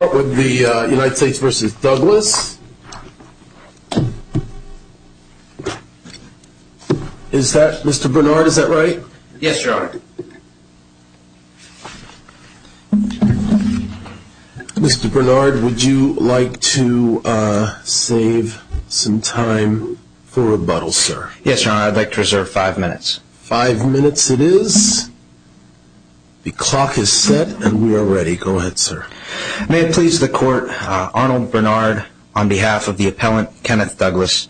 Mr. Bernard, would you like to save some time for rebuttal, sir? Yes, your honor. I'd like to reserve five minutes. Five minutes it is. The clock is set and we are ready. Go ahead, sir. May it please the court, Arnold Bernard on behalf of the appellant, Kenneth Douglas.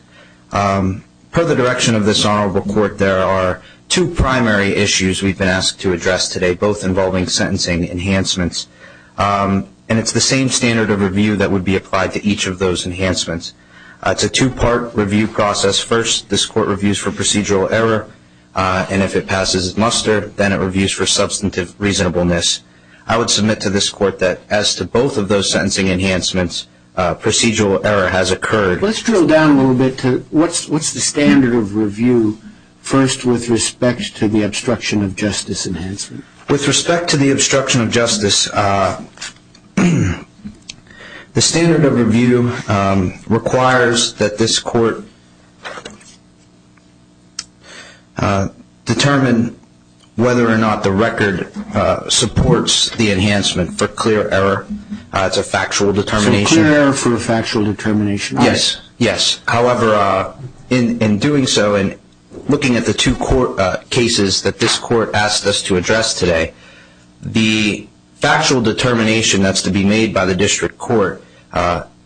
Per the direction of this honorable court, there are two primary issues we've been asked to address today, both involving sentencing enhancements. And it's the same standard of review that would be applied to each of those enhancements. It's a two-part review process. First, this court reviews for procedural error, and if it passes muster, then it reviews for substantive reasonableness. I would submit to this court that as to both of those sentencing enhancements, procedural error has occurred. Let's drill down a little bit to what's the standard of review first with respect to the obstruction of justice enhancement. With respect to the obstruction of justice, the standard of review requires that this court determine whether or not the record supports the enhancement for clear error. It's a factual determination. So clear error for a factual determination? Yes, yes. However, in doing so and looking at the two cases that this court asked us to address today, the factual determination that's to be made by the district court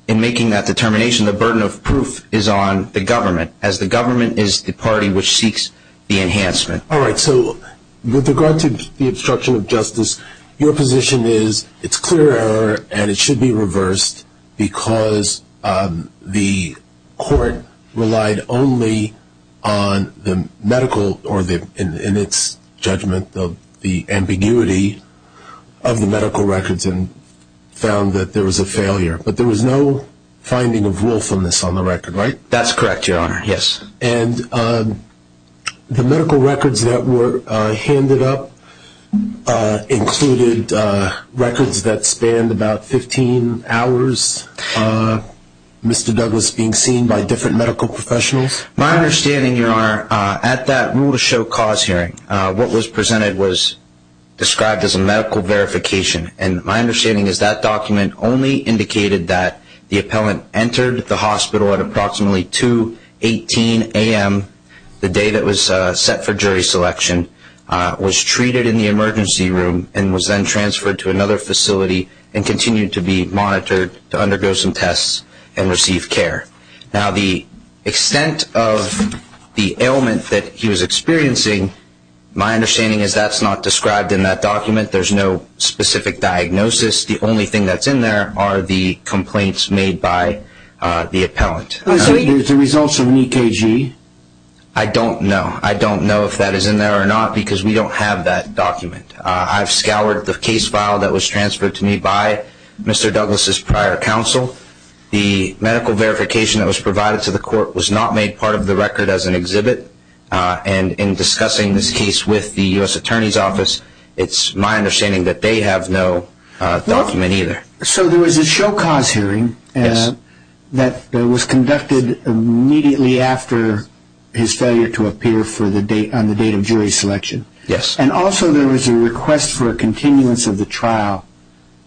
in making that determination, the burden of proof is on the government, as the government is the party which seeks the enhancement. All right. So with regard to the obstruction of justice, your position is it's clear error and it should be reversed because the court relied only on the medical or in its judgment the ambiguity of the medical records and found that there was a failure. But there was no finding of willfulness on the record, right? That's correct, Your Honor. Yes. And the medical records that were handed up included records that spanned about 15 hours, Mr. Douglas, being seen by different medical professionals? My understanding, Your Honor, at that rule-of-show cause hearing, what was presented was described as a medical verification. And my understanding is that document only indicated that the appellant entered the hospital at approximately 2.18 a.m. the day that was set for jury selection, was treated in the emergency room, and was then transferred to another facility and continued to be monitored to undergo some tests and receive care. Now, the extent of the ailment that he was experiencing, my understanding is that's not described in that document. There's no specific diagnosis. The only thing that's in there are the complaints made by the appellant. So there's the results of an EKG? I don't know. I don't know if that is in there or not because we don't have that document. I've scoured the case file that was transferred to me by Mr. Douglas' prior counsel. The medical verification that was provided to the court was not made part of the record as an exhibit. And in discussing this case with the U.S. Attorney's Office, it's my understanding that they have no document either. So there was a show-cause hearing that was conducted immediately after his failure to appear on the date of jury selection. Yes. And also there was a request for a continuance of the trial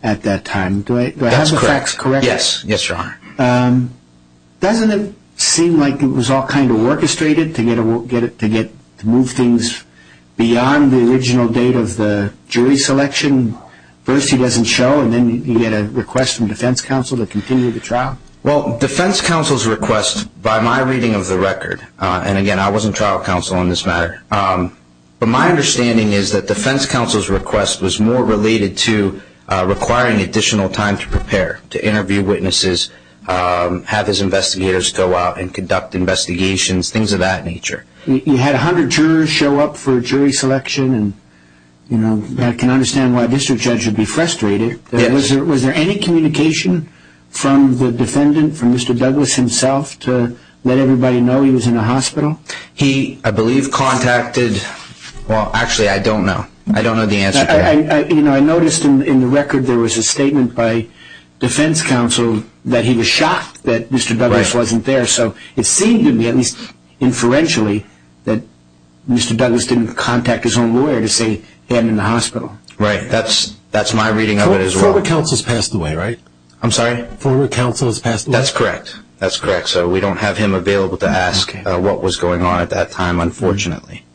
at that time. That's correct. Yes, Your Honor. Doesn't it seem like it was all kind of orchestrated to move things beyond the original date of the jury selection? First he doesn't show and then you get a request from defense counsel to continue the trial? Well, defense counsel's request, by my reading of the record, and, again, I wasn't trial counsel on this matter, but my understanding is that defense counsel's request was more related to requiring additional time to prepare, to interview witnesses, have his investigators go out and conduct investigations, things of that nature. You had 100 jurors show up for jury selection, and I can understand why a district judge would be frustrated. Yes. Was there any communication from the defendant, from Mr. Douglas himself, to let everybody know he was in the hospital? He, I believe, contacted, well, actually I don't know. I don't know the answer to that. I noticed in the record there was a statement by defense counsel that he was shocked that Mr. Douglas wasn't there. So it seemed to me, at least inferentially, that Mr. Douglas didn't contact his own lawyer to say he hadn't been in the hospital. Right. That's my reading of it as well. Former counsel's passed away, right? I'm sorry? Former counsel's passed away. That's correct. That's correct. So we don't have him available to ask what was going on at that time, unfortunately.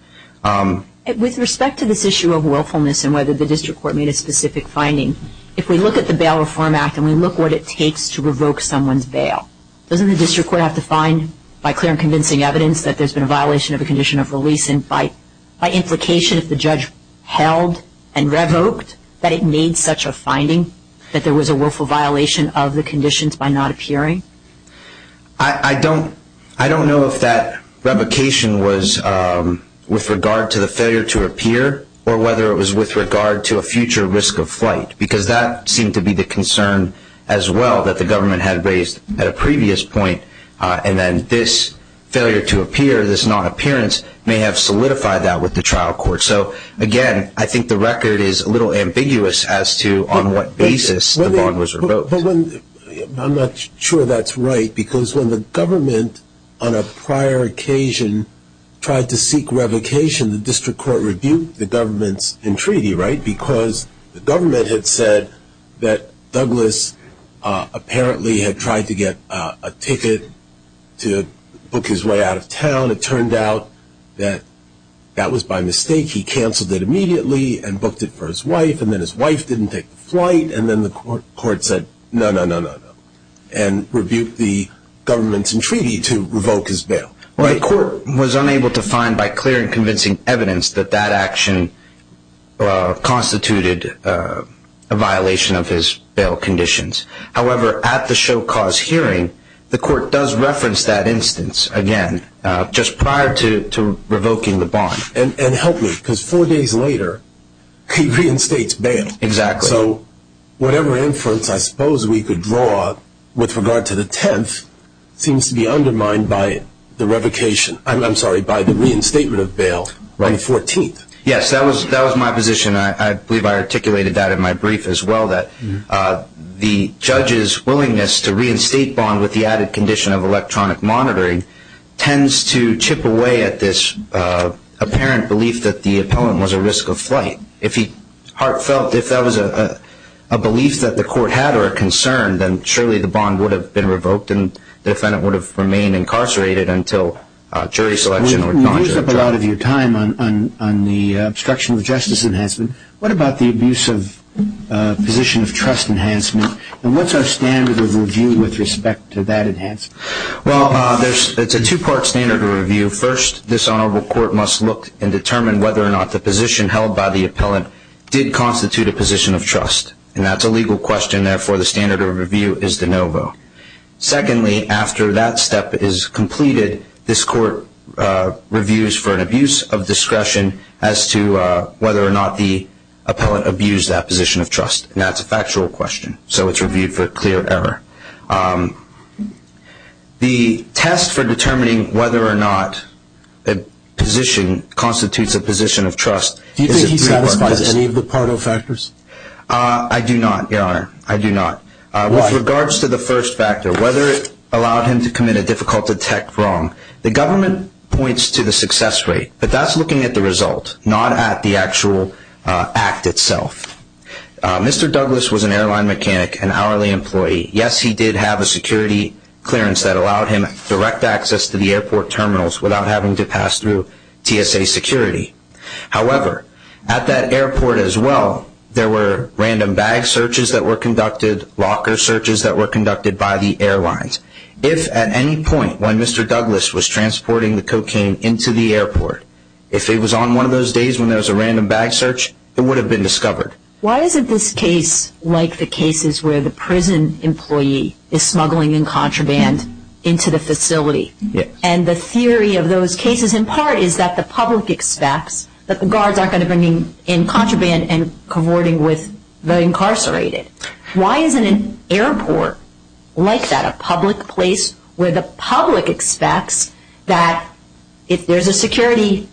With respect to this issue of willfulness and whether the district court made a specific finding, if we look at the Bail Reform Act and we look at what it takes to revoke someone's bail, doesn't the district court have to find, by clear and convincing evidence, that there's been a violation of a condition of release and by implication, if the judge held and revoked, that it made such a finding that there was a willful violation of the conditions by not appearing? I don't know if that revocation was with regard to the failure to appear or whether it was with regard to a future risk of flight, because that seemed to be the concern as well that the government had raised at a previous point, and then this failure to appear, this non-appearance may have solidified that with the trial court. So, again, I think the record is a little ambiguous as to on what basis the bond was revoked. I'm not sure that's right, because when the government on a prior occasion tried to seek revocation, the district court reviewed the government's entreaty, right, because the government had said that Douglas apparently had tried to get a ticket to book his way out of town. It turned out that that was by mistake. He canceled it immediately and booked it for his wife, and then his wife didn't take the flight, and then the court said, no, no, no, no, and reviewed the government's entreaty to revoke his bail. Well, the court was unable to find by clear and convincing evidence that that action constituted a violation of his bail conditions. However, at the show-cause hearing, the court does reference that instance again, just prior to revoking the bond. And help me, because four days later, he reinstates bail. Exactly. So whatever inference I suppose we could draw with regard to the 10th seems to be undermined by the revocation, I'm sorry, by the reinstatement of bail on the 14th. Yes, that was my position. I believe I articulated that in my brief as well, that the judge's willingness to reinstate bond with the added condition of electronic monitoring tends to chip away at this apparent belief that the appellant was a risk of flight. If that was a belief that the court had or a concern, then surely the bond would have been revoked and the defendant would have remained incarcerated until jury selection or non-jury trial. We used up a lot of your time on the obstruction of justice enhancement. What about the abuse of position of trust enhancement, and what's our standard of review with respect to that enhancement? Well, it's a two-part standard of review. First, this honorable court must look and determine whether or not the position held by the appellant did constitute a position of trust, and that's a legal question. Therefore, the standard of review is de novo. Secondly, after that step is completed, this court reviews for an abuse of discretion as to whether or not the appellant abused that position of trust, and that's a factual question. So it's reviewed for clear error. The test for determining whether or not a position constitutes a position of trust is a three-part process. Do you think he satisfies any of the Pardo factors? I do not, Your Honor. I do not. With regards to the first factor, whether it allowed him to commit a difficult attack wrong, the government points to the success rate, but that's looking at the result, not at the actual act itself. Mr. Douglas was an airline mechanic, an hourly employee. Yes, he did have a security clearance that allowed him direct access to the airport terminals without having to pass through TSA security. However, at that airport as well, there were random bag searches that were conducted, locker searches that were conducted by the airlines. If at any point when Mr. Douglas was transporting the cocaine into the airport, if it was on one of those days when there was a random bag search, it would have been discovered. Why isn't this case like the cases where the prison employee is smuggling in contraband into the facility? Yes. And the theory of those cases, in part, is that the public expects that the guards aren't going to be bringing in contraband and cavorting with the incarcerated. Why isn't an airport like that, a public place, where the public expects that if there's a security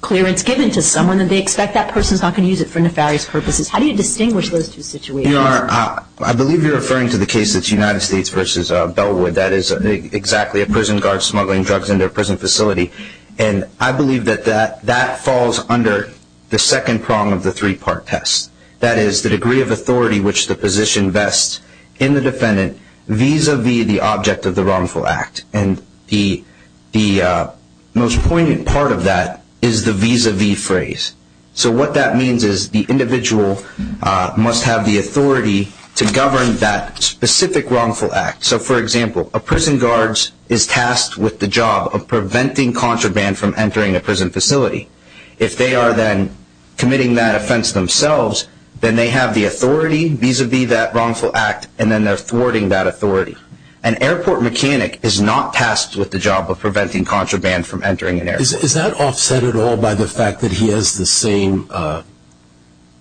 clearance given to someone, that they expect that person's not going to use it for nefarious purposes? How do you distinguish those two situations? I believe you're referring to the case that's United States v. Bellwood. That is exactly a prison guard smuggling drugs into a prison facility, and I believe that that falls under the second prong of the three-part test. That is, the degree of authority which the position vests in the defendant vis-à-vis the object of the wrongful act. And the most poignant part of that is the vis-à-vis phrase. So what that means is the individual must have the authority to govern that specific wrongful act. So, for example, a prison guard is tasked with the job of preventing contraband from entering a prison facility. If they are then committing that offense themselves, then they have the authority vis-à-vis that wrongful act, and then they're thwarting that authority. An airport mechanic is not tasked with the job of preventing contraband from entering an airport. Is that offset at all by the fact that he has the same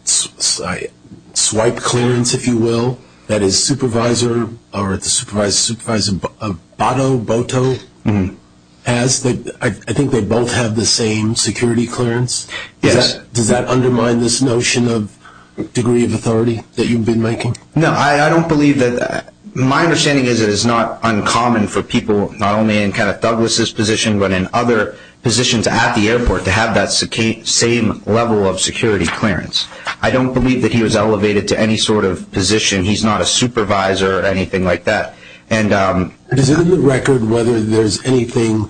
swipe clearance, if you will, that his supervisor or the supervisor's supervisor, Botto, has? I think they both have the same security clearance. Yes. Does that undermine this notion of degree of authority that you've been making? No, I don't believe that. My understanding is it is not uncommon for people not only in Kenneth Douglas' position but in other positions at the airport to have that same level of security clearance. I don't believe that he was elevated to any sort of position. He's not a supervisor or anything like that. Is it in the record whether there's anything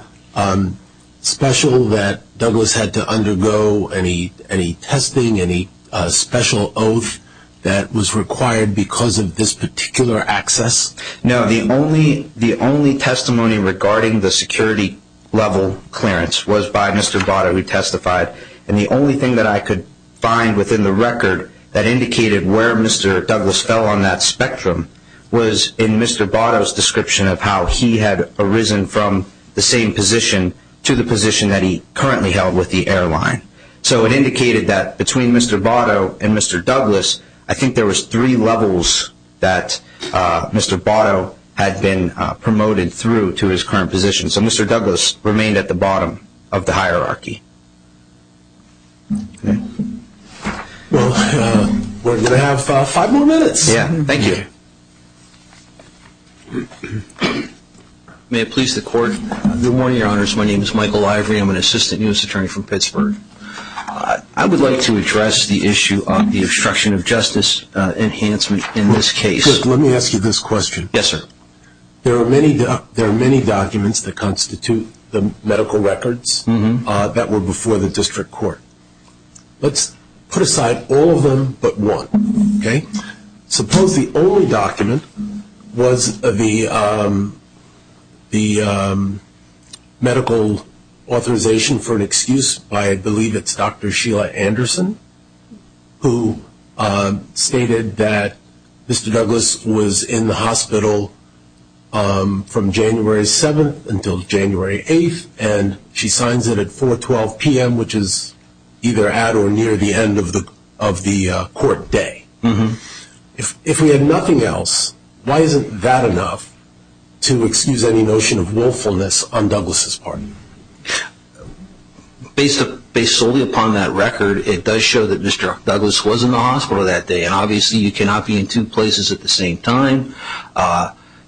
special that Douglas had to undergo, any testing, any special oath that was required because of this particular access? No. The only testimony regarding the security level clearance was by Mr. Botto, who testified, and the only thing that I could find within the record that indicated where Mr. Douglas fell on that spectrum was in Mr. Botto's description of how he had arisen from the same position to the position that he currently held with the airline. So it indicated that between Mr. Botto and Mr. Douglas, I think there was three levels that Mr. Botto had been promoted through to his current position. So Mr. Douglas remained at the bottom of the hierarchy. Well, we're going to have five more minutes. Yeah, thank you. May it please the Court. Good morning, Your Honors. My name is Michael Ivory. I'm an Assistant U.S. Attorney from Pittsburgh. I would like to address the issue of the obstruction of justice enhancement in this case. Let me ask you this question. Yes, sir. There are many documents that constitute the medical records that were before the district court. Let's put aside all of them but one, okay? Suppose the only document was the medical authorization for an excuse by, I believe it's Dr. Sheila Anderson, who stated that Mr. Douglas was in the hospital from January 7th until January 8th, and she signs it at 4.12 p.m., which is either at or near the end of the court day. If we had nothing else, why isn't that enough to excuse any notion of willfulness on Douglas' part? Based solely upon that record, it does show that Mr. Douglas was in the hospital that day, and obviously you cannot be in two places at the same time.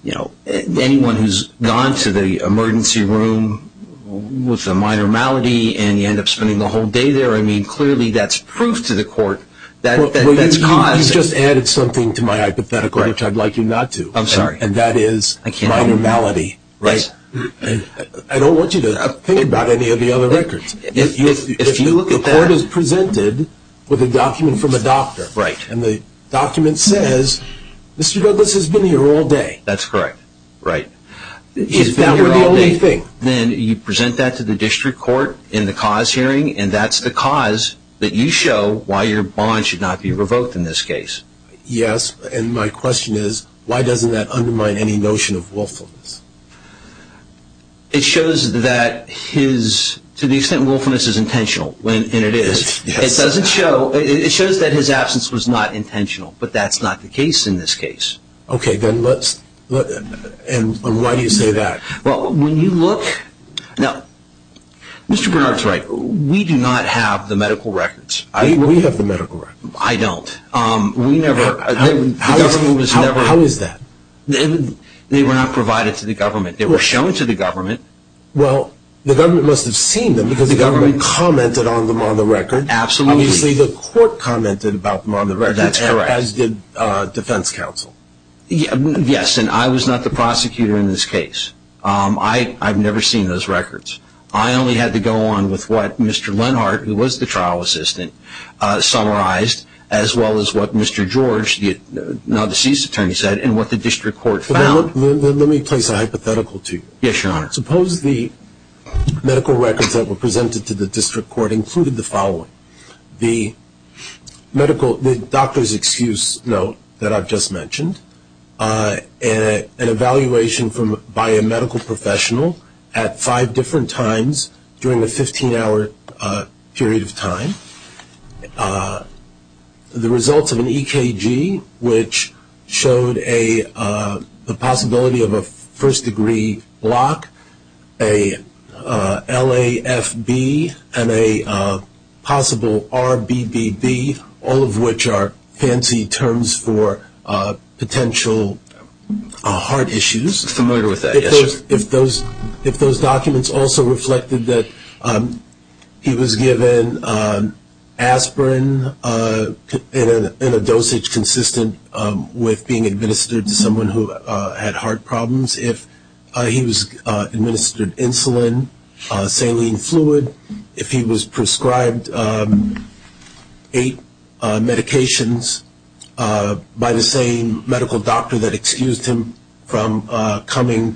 Anyone who's gone to the emergency room with a minor malady and you end up spending the whole day there, I mean, clearly that's proof to the court that that's caused. You just added something to my hypothetical, which I'd like you not to. I'm sorry. And that is minor malady. Right. I don't want you to think about any of the other records. If you look at that. The court is presented with a document from a doctor. Right. And the document says, Mr. Douglas has been here all day. That's correct. Right. He's been here all day. If that were the only thing. Then you present that to the district court in the cause hearing, and that's the cause that you show why your bond should not be revoked in this case. Yes, and my question is, why doesn't that undermine any notion of willfulness? It shows that his, to the extent willfulness is intentional, and it is, it doesn't show, it shows that his absence was not intentional, but that's not the case in this case. Okay, then let's, and why do you say that? Well, when you look, now, Mr. Bernard's right. We do not have the medical records. We have the medical records. I don't. We never, the government was never. How is that? They were not provided to the government. They were shown to the government. Well, the government must have seen them, because the government commented on them on the record. Absolutely. Obviously, the court commented about them on the record. That's correct. As did defense counsel. Yes, and I was not the prosecutor in this case. I've never seen those records. I only had to go on with what Mr. Lenhart, who was the trial assistant, summarized, as well as what Mr. George, now deceased attorney, said, Let me place a hypothetical to you. Yes, Your Honor. Suppose the medical records that were presented to the district court included the following. The medical, the doctor's excuse note that I've just mentioned, an evaluation by a medical professional at five different times during a 15-hour period of time, the results of an EKG, which showed a possibility of a first-degree block, a LAFB, and a possible RBBB, all of which are fancy terms for potential heart issues. I'm familiar with that, yes, Your Honor. If those documents also reflected that he was given aspirin in a dosage consistent with being administered to someone who had heart problems, if he was administered insulin, saline fluid, if he was prescribed eight medications by the same medical doctor that excused him from being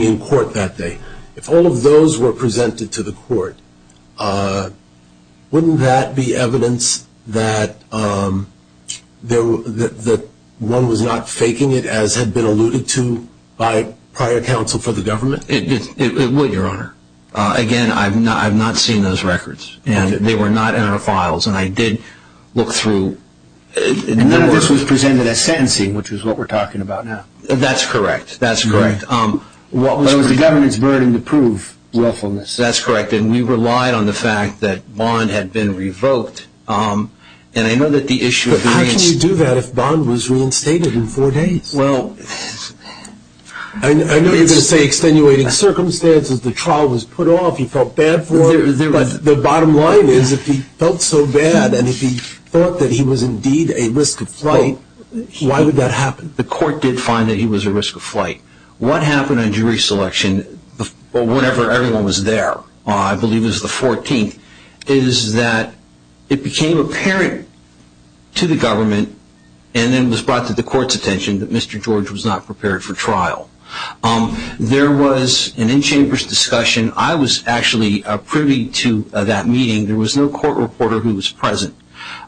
in court that day, if all of those were presented to the court, wouldn't that be evidence that one was not faking it, as had been alluded to by prior counsel for the government? It would, Your Honor. Again, I've not seen those records, and they were not in our files. And I did look through. None of this was presented as sentencing, which is what we're talking about now. That's correct. That's correct. But it was the government's burden to prove willfulness. That's correct. And we relied on the fact that Bond had been revoked. But how can you do that if Bond was reinstated in four days? Well, I know you're going to say extenuating circumstances. The trial was put off. He felt bad for it. But the bottom line is if he felt so bad and if he thought that he was indeed a risk of flight, why would that happen? The court did find that he was a risk of flight. What happened in jury selection, whenever everyone was there, I believe it was the 14th, is that it became apparent to the government and then was brought to the court's attention that Mr. George was not prepared for trial. There was an in-chambers discussion. I was actually privy to that meeting. There was no court reporter who was present.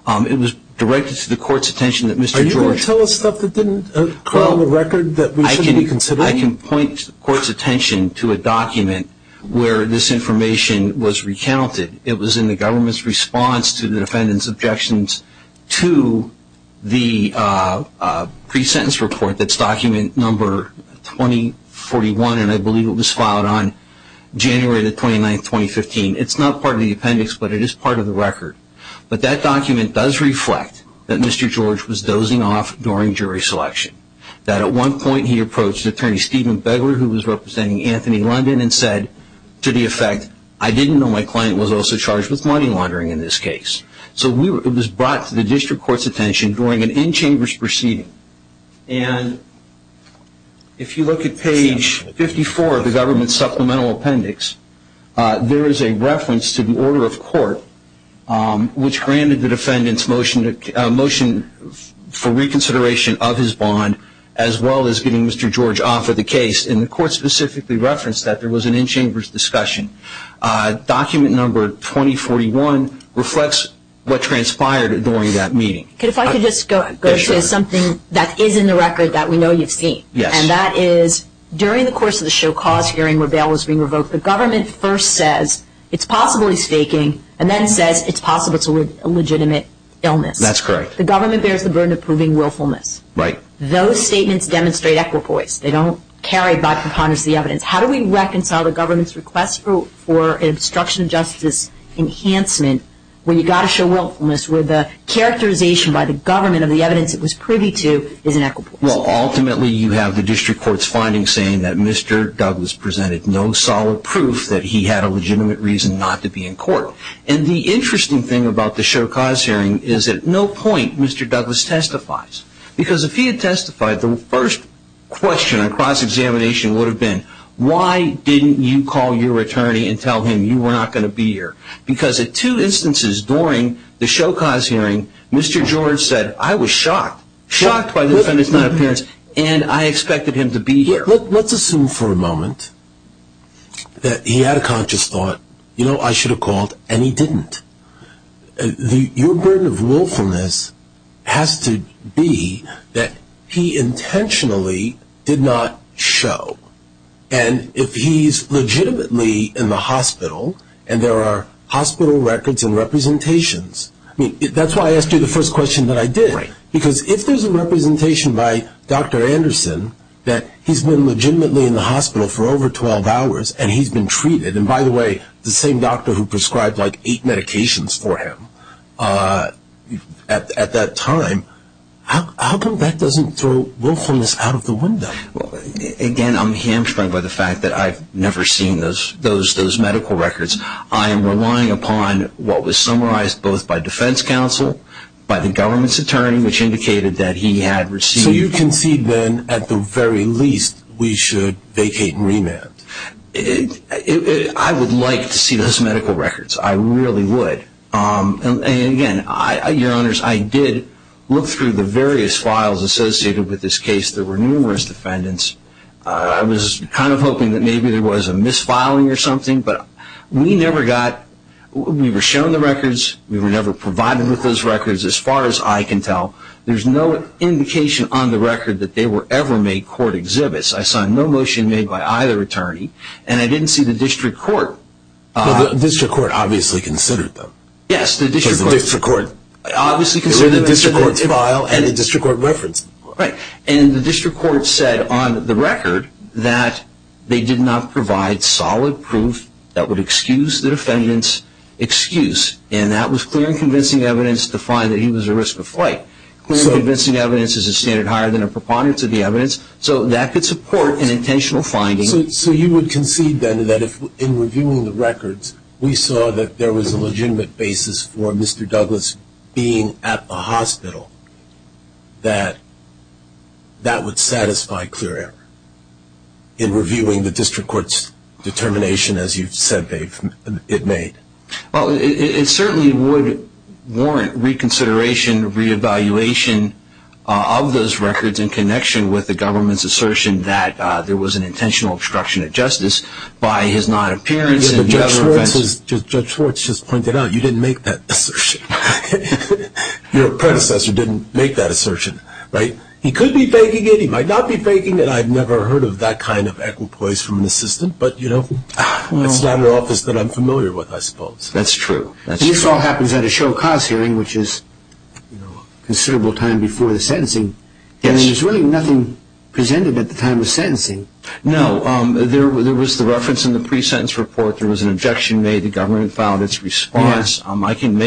It was directed to the court's attention that Mr. George – Are you going to tell us stuff that didn't occur on the record that we shouldn't be considering? I can point the court's attention to a document where this information was recounted. It was in the government's response to the defendant's objections to the pre-sentence report. That's document number 2041, and I believe it was filed on January 29, 2015. It's not part of the appendix, but it is part of the record. But that document does reflect that Mr. George was dozing off during jury selection, that at one point he approached Attorney Stephen Begler, who was representing Anthony London, and said to the effect, I didn't know my client was also charged with money laundering in this case. So it was brought to the district court's attention during an in-chambers proceeding. And if you look at page 54 of the government's supplemental appendix, there is a reference to the order of court, which granted the defendant's motion for reconsideration of his bond, as well as getting Mr. George off of the case. And the court specifically referenced that there was an in-chambers discussion. Document number 2041 reflects what transpired during that meeting. If I could just go to something that is in the record that we know you've seen. Yes. And that is, during the course of the show cause hearing where bail was being revoked, the government first says it's possibly faking, and then says it's possible it's a legitimate illness. That's correct. The government bears the burden of proving willfulness. Right. Those statements demonstrate equipoise. They don't carry by preponderance the evidence. How do we reconcile the government's request for an obstruction of justice enhancement when you've got to show willfulness, where the characterization by the government of the evidence it was privy to is an equipoise? Well, ultimately you have the district court's findings saying that Mr. Douglas presented no solid proof that he had a legitimate reason not to be in court. And the interesting thing about the show cause hearing is at no point Mr. Douglas testifies. Because if he had testified, the first question on cross-examination would have been, why didn't you call your attorney and tell him you were not going to be here? Because at two instances during the show cause hearing, Mr. George said, I was shocked. Shocked by the defendant's non-appearance, and I expected him to be here. Let's assume for a moment that he had a conscious thought, you know, I should have called, and he didn't. Your burden of willfulness has to be that he intentionally did not show. And if he's legitimately in the hospital and there are hospital records and representations, I mean, that's why I asked you the first question that I did. Because if there's a representation by Dr. Anderson that he's been legitimately in the hospital for over 12 hours and he's been treated, and by the way, the same doctor who prescribed like eight medications for him at that time, how come that doesn't throw willfulness out of the window? Again, I'm hamstrung by the fact that I've never seen those medical records. I am relying upon what was summarized both by defense counsel, by the government's attorney, which indicated that he had received So you concede then, at the very least, we should vacate and remand? I would like to see those medical records. I really would. And again, your honors, I did look through the various files associated with this case. There were numerous defendants. I was kind of hoping that maybe there was a misfiling or something, but we never got, we were shown the records, we were never provided with those records as far as I can tell. There's no indication on the record that they were ever made court exhibits. I saw no motion made by either attorney, and I didn't see the district court. The district court obviously considered them. Yes, the district court. The district court obviously considered them. It was a district court file and a district court reference. Right, and the district court said on the record that they did not provide solid proof that would excuse the defendant's excuse, and that was clear and convincing evidence to find that he was at risk of flight. Clear and convincing evidence is a standard higher than a preponderance of the evidence, so that could support an intentional finding. So you would concede then that in reviewing the records, we saw that there was a legitimate basis for Mr. Douglas being at the hospital, that that would satisfy clear error in reviewing the district court's determination as you've said it made? Well, it certainly would warrant reconsideration, re-evaluation of those records in connection with the government's assertion that there was an intentional obstruction of justice by his non-appearance. Judge Schwartz just pointed out you didn't make that assertion. Your predecessor didn't make that assertion, right? He could be faking it. He might not be faking it. I've never heard of that kind of equipoise from an assistant, but it's not an office that I'm familiar with, I suppose. That's true. And this all happens at a show cause hearing, which is a considerable time before the sentencing, and there's really nothing presented at the time of sentencing. No, there was the reference in the pre-sentence report. There was an objection made. The government filed its response. I can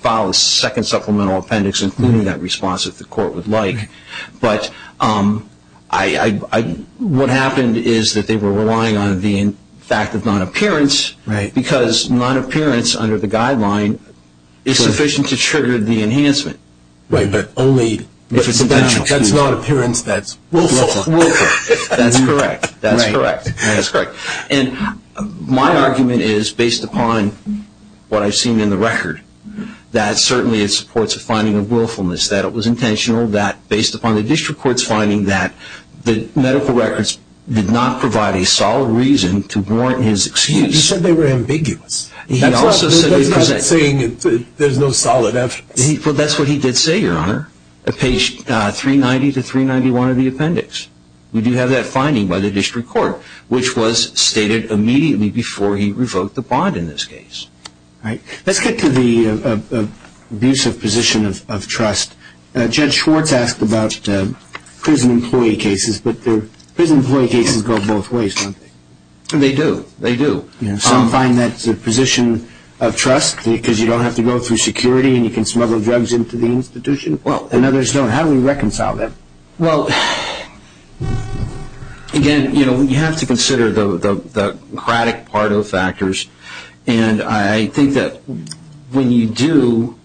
file a second supplemental appendix including that response if the court would like, but what happened is that they were relying on the fact of non-appearance because non-appearance under the guideline is sufficient to trigger the enhancement. Right, but only if it's not appearance that's willful. Willful. That's correct. That's correct. And my argument is, based upon what I've seen in the record, that certainly it supports a finding of willfulness, that it was intentional, that based upon the district court's finding that the medical records did not provide a solid reason to warrant his excuse. You said they were ambiguous. That's not saying there's no solid evidence. Well, that's what he did say, Your Honor, at page 390 to 391 of the appendix. We do have that finding by the district court, which was stated immediately before he revoked the bond in this case. All right. Let's get to the abuse of position of trust. Judge Schwartz asked about prison employee cases, but prison employee cases go both ways, don't they? They do. They do. Some find that it's a position of trust because you don't have to go through security and you can smuggle drugs into the institution and others don't. How do we reconcile them? Well, again, you have to consider the erratic part of the factors, and I think that when you do,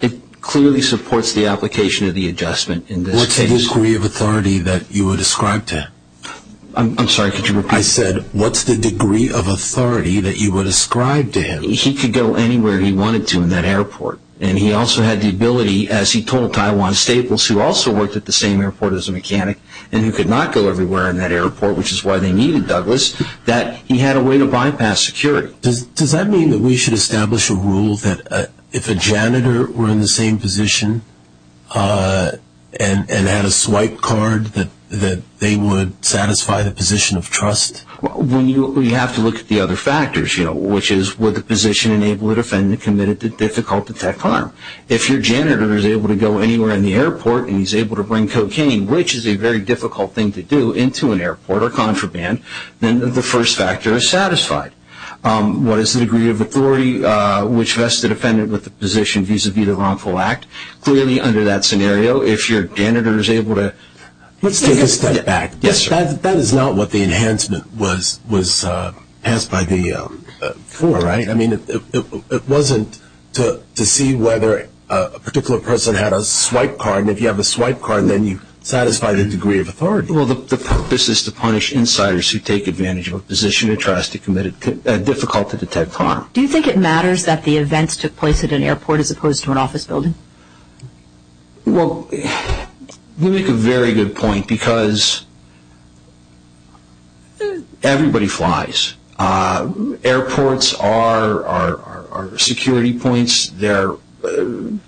it clearly supports the application of the adjustment in this case. What's the degree of authority that you would ascribe to him? I'm sorry, could you repeat that? I said, what's the degree of authority that you would ascribe to him? He could go anywhere he wanted to in that airport, and he also had the ability, as he told Taiwan Staples, who also worked at the same airport as a mechanic and who could not go everywhere in that airport, which is why they needed Douglas, that he had a way to bypass security. Does that mean that we should establish a rule that if a janitor were in the same position and had a swipe card that they would satisfy the position of trust? Which is, would the position enable a defendant committed to difficult to detect harm? If your janitor is able to go anywhere in the airport and he's able to bring cocaine, which is a very difficult thing to do, into an airport or contraband, then the first factor is satisfied. What is the degree of authority which vests the defendant with the position vis-à-vis the wrongful act? Clearly, under that scenario, if your janitor is able to... Let's take a step back. Yes, sir. That is not what the enhancement was passed by the floor, right? I mean, it wasn't to see whether a particular person had a swipe card, and if you have a swipe card, then you satisfy the degree of authority. Well, the purpose is to punish insiders who take advantage of a position of trust and commit a difficult to detect harm. Do you think it matters that the events took place at an airport as opposed to an office building? Well, you make a very good point because everybody flies. Airports are security points. They're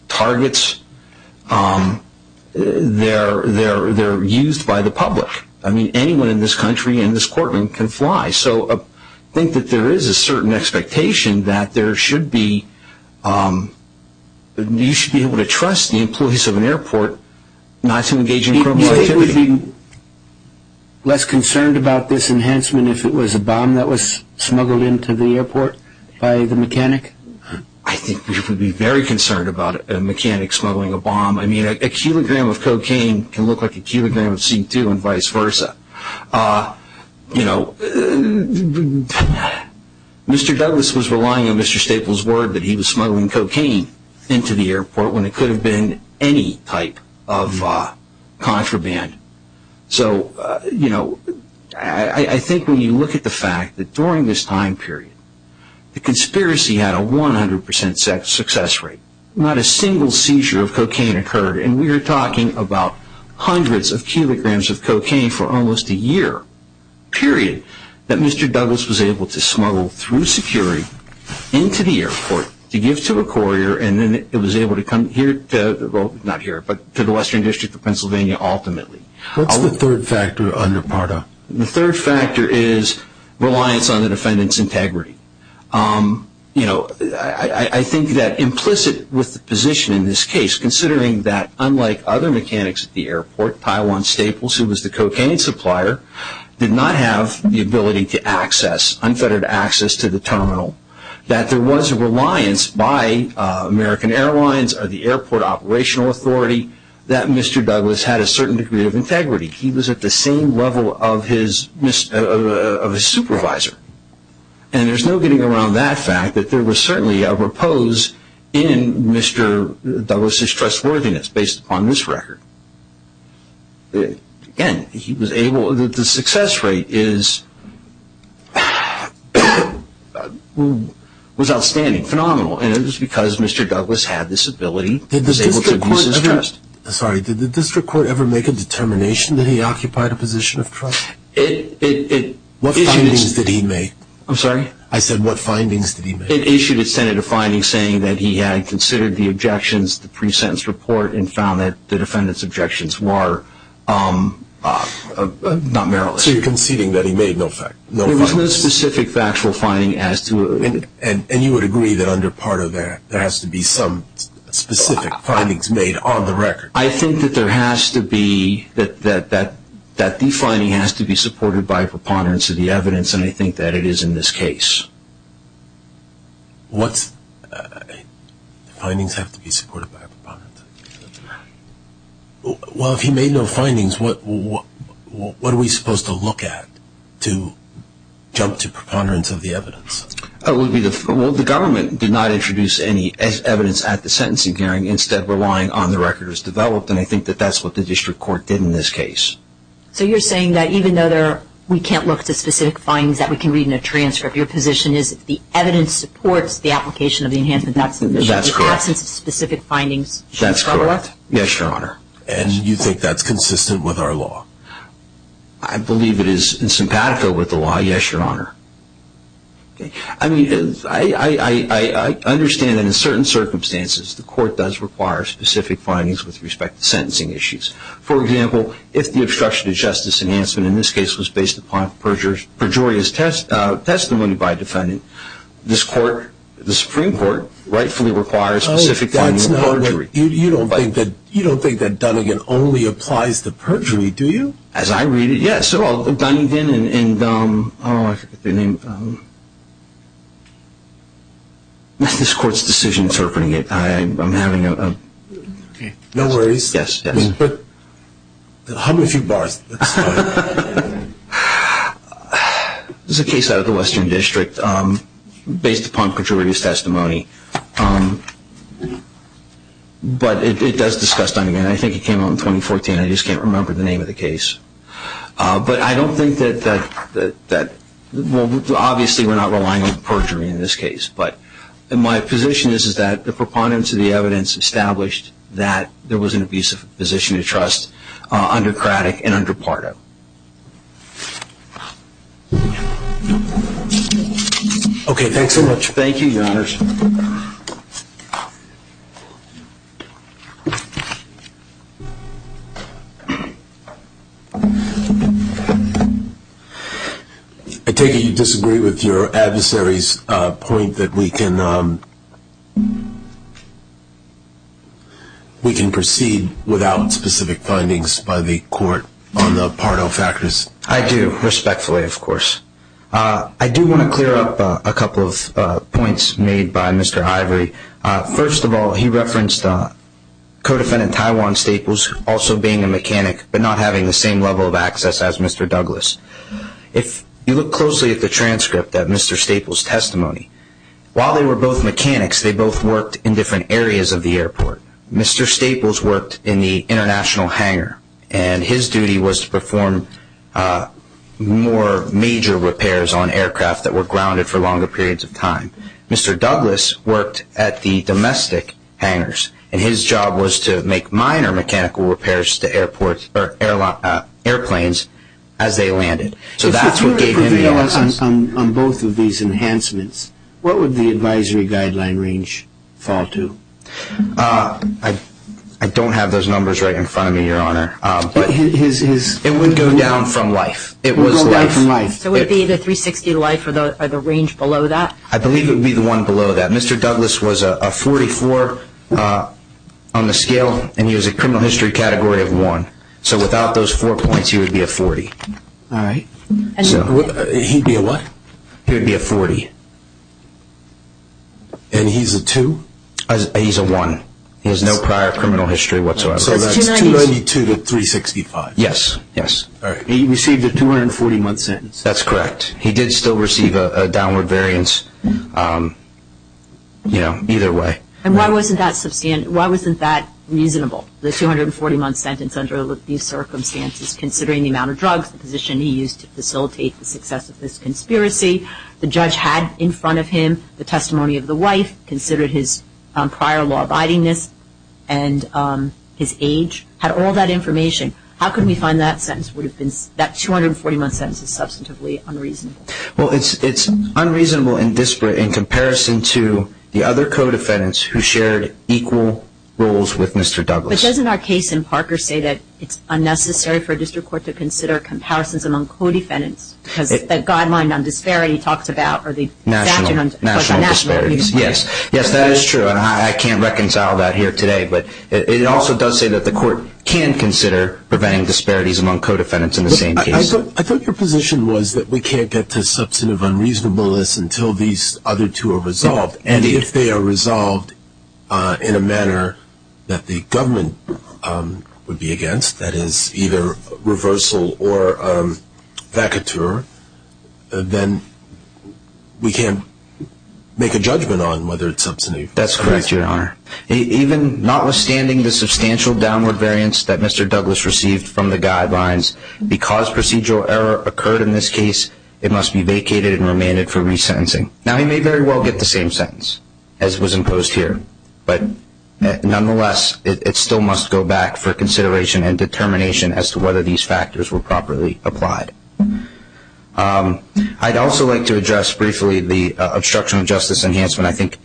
targets. They're used by the public. I mean, anyone in this country and this courtroom can fly. So I think that there is a certain expectation that there should be... You should be able to trust the employees of an airport not to engage in criminal activity. Do you think we would be less concerned about this enhancement if it was a bomb that was smuggled into the airport by the mechanic? I think we would be very concerned about a mechanic smuggling a bomb. I mean, a kilogram of cocaine can look like a kilogram of C2 and vice versa. You know, Mr. Douglas was relying on Mr. Staple's word that he was smuggling cocaine into the airport when it could have been any type of contraband. So, you know, I think when you look at the fact that during this time period, the conspiracy had a 100% success rate. Not a single seizure of cocaine occurred, and we are talking about hundreds of kilograms of cocaine for almost a year period that Mr. Douglas was able to smuggle through security into the airport to give to a courier and then it was able to come here to the Western District of Pennsylvania ultimately. What's the third factor under PARDA? The third factor is reliance on the defendant's integrity. You know, I think that implicit with the position in this case, considering that unlike other mechanics at the airport, Taiwan Staples, who was the cocaine supplier, did not have the ability to access, unfettered access to the terminal, that there was a reliance by American Airlines or the airport operational authority that Mr. Douglas had a certain degree of integrity. He was at the same level of his supervisor. And there's no getting around that fact that there was certainly a repose in Mr. Douglas' trustworthiness based upon this record. Again, he was able to, the success rate is, was outstanding, phenomenal, and it was because Mr. Douglas had this ability to be able to abuse his trust. Sorry, did the district court ever make a determination that he occupied a position of trust? What findings did he make? I'm sorry? I said what findings did he make? It issued a definitive finding saying that he had considered the objections, the pre-sentence report, and found that the defendant's objections were not meritless. So you're conceding that he made no findings? There was no specific factual finding as to it. And you would agree that under PARDA there has to be some specific findings made on the record? I think that there has to be, that the finding has to be supported by a preponderance of the evidence, and I think that it is in this case. What findings have to be supported by a preponderance? Well, if he made no findings, what are we supposed to look at to jump to preponderance of the evidence? Well, the government did not introduce any evidence at the sentencing hearing, instead relying on the records developed, and I think that that's what the district court did in this case. So you're saying that even though we can't look to specific findings that we can read in a transcript, your position is that the evidence supports the application of the Enhancement Action Commission. That's correct. The absence of specific findings should be overlooked? That's correct. Yes, Your Honor. And you think that's consistent with our law? I believe it is in simpatico with the law, yes, Your Honor. I mean, I understand that in certain circumstances the court does require specific findings with respect to sentencing issues. For example, if the obstruction of justice enhancement in this case was based upon perjurious testimony by a defendant, this court, the Supreme Court, rightfully requires specific findings of perjury. You don't think that Dunnigan only applies to perjury, do you? As I read it, yes. So Dunnigan and – oh, I forget their name. This court's decision interpreting it. I'm having a – No worries. Yes, yes. How many few bars? This is a case out of the Western District based upon perjurious testimony. But it does discuss Dunnigan. I think it came out in 2014. I just can't remember the name of the case. But I don't think that – well, obviously we're not relying on perjury in this case. But my position is that the proponents of the evidence established that there was an abusive position of trust under Craddick and under Pardo. Okay, thanks so much. Thank you, Your Honors. I take it you disagree with your adversary's point that we can proceed without specific findings by the court on the Pardo factors. I do, respectfully, of course. I do want to clear up a couple of points made by Mr. Ivory. First of all, he referenced Co-Defendant Taiwan Staples also being a mechanic but not having the same level of access as Mr. Douglas. If you look closely at the transcript of Mr. Staples' testimony, while they were both mechanics, they both worked in different areas of the airport. Mr. Staples worked in the international hangar, and his duty was to perform more major repairs on aircraft that were grounded for longer periods of time. Mr. Douglas worked at the domestic hangars, and his job was to make minor mechanical repairs to airplanes as they landed. If you were to reveal on both of these enhancements, what would the advisory guideline range fall to? I don't have those numbers right in front of me, Your Honor. It would go down from life. It would go down from life. So would it be the 360 life or the range below that? I believe it would be the one below that. Mr. Douglas was a 44 on the scale, and he was a criminal history category of 1. So without those four points, he would be a 40. All right. He'd be a what? He would be a 40. And he's a 2? He's a 1. He has no prior criminal history whatsoever. So that's 292 to 365. Yes, yes. All right. He received a 240-month sentence. That's correct. He did still receive a downward variance, you know, either way. And why wasn't that reasonable, the 240-month sentence under these circumstances, considering the amount of drugs, the position he used to facilitate the success of this conspiracy, the judge had in front of him the testimony of the wife, considered his prior law-abidingness, and his age, had all that information. How can we find that sentence would have been that 240-month sentence is substantively unreasonable? Well, it's unreasonable and disparate in comparison to the other co-defendants who shared equal roles with Mr. Douglas. But doesn't our case in Parker say that it's unnecessary for a district court to consider comparisons among co-defendants because that guideline on disparity talks about the national disparities? Yes. Yes, that is true, and I can't reconcile that here today. But it also does say that the court can consider preventing disparities among co-defendants in the same case. I thought your position was that we can't get to substantive unreasonableness until these other two are resolved. And if they are resolved in a manner that the government would be against, that is, either reversal or vacateur, then we can't make a judgment on whether it's substantive. That's correct, Your Honor. Even notwithstanding the substantial downward variance that Mr. Douglas received from the guidelines, because procedural error occurred in this case, it must be vacated and remanded for resentencing. Now, he may very well get the same sentence as was imposed here, but nonetheless it still must go back for consideration and determination as to whether these factors were properly applied. I'd also like to address briefly the obstruction of justice enhancement. I think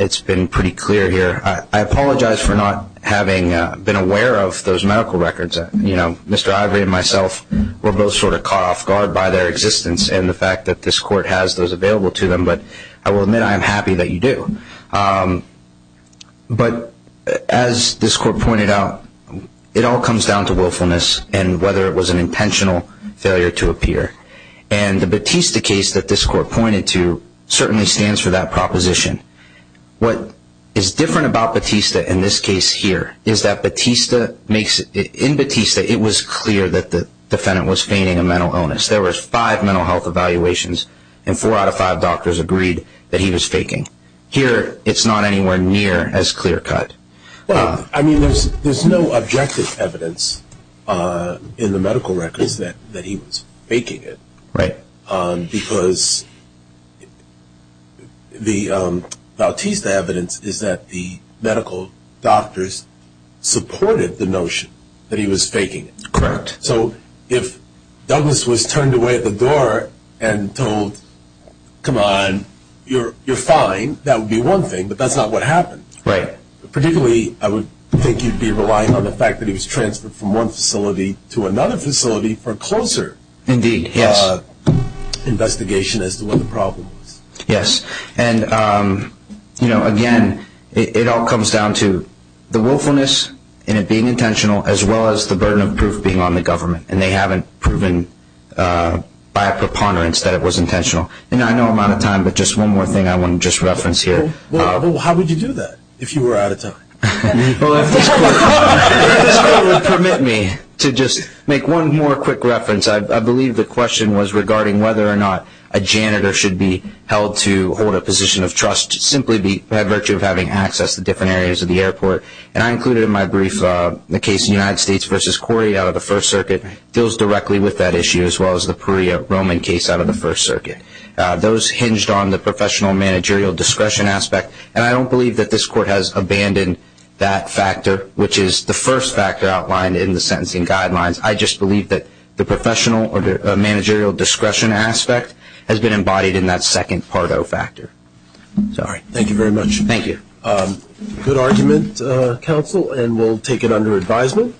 it's been pretty clear here. I apologize for not having been aware of those medical records. Mr. Ivory and myself were both sort of caught off guard by their existence and the fact that this court has those available to them. But I will admit I am happy that you do. But as this court pointed out, it all comes down to willfulness and whether it was an intentional failure to appear. And the Batista case that this court pointed to certainly stands for that proposition. What is different about Batista in this case here is that in Batista it was clear that the defendant was feigning a mental illness. There were five mental health evaluations, and four out of five doctors agreed that he was faking. Here it's not anywhere near as clear-cut. Well, I mean there's no objective evidence in the medical records that he was faking it. Right. Because the Batista evidence is that the medical doctors supported the notion that he was faking it. Correct. So if Douglas was turned away at the door and told, come on, you're fine, that would be one thing. But that's not what happened. Right. Particularly I would think you'd be relying on the fact that he was transferred from one facility to another facility for closer. Indeed, yes. Investigation as to what the problem was. Yes. And, you know, again, it all comes down to the willfulness in it being intentional, as well as the burden of proof being on the government, and they haven't proven by a preponderance that it was intentional. And I know I'm out of time, but just one more thing I want to just reference here. Well, how would you do that if you were out of time? Well, if this court would permit me to just make one more quick reference, I believe the question was regarding whether or not a janitor should be held to hold a position of trust, simply by virtue of having access to different areas of the airport. And I included in my brief the case of the United States v. Corey out of the First Circuit. It deals directly with that issue, as well as the Perea Roman case out of the First Circuit. Those hinged on the professional managerial discretion aspect, and I don't believe that this court has abandoned that factor, which is the first factor outlined in the sentencing guidelines. I just believe that the professional or the managerial discretion aspect has been embodied in that second part O factor. All right. Thank you very much. Thank you. Good argument, counsel, and we'll take it under advisement.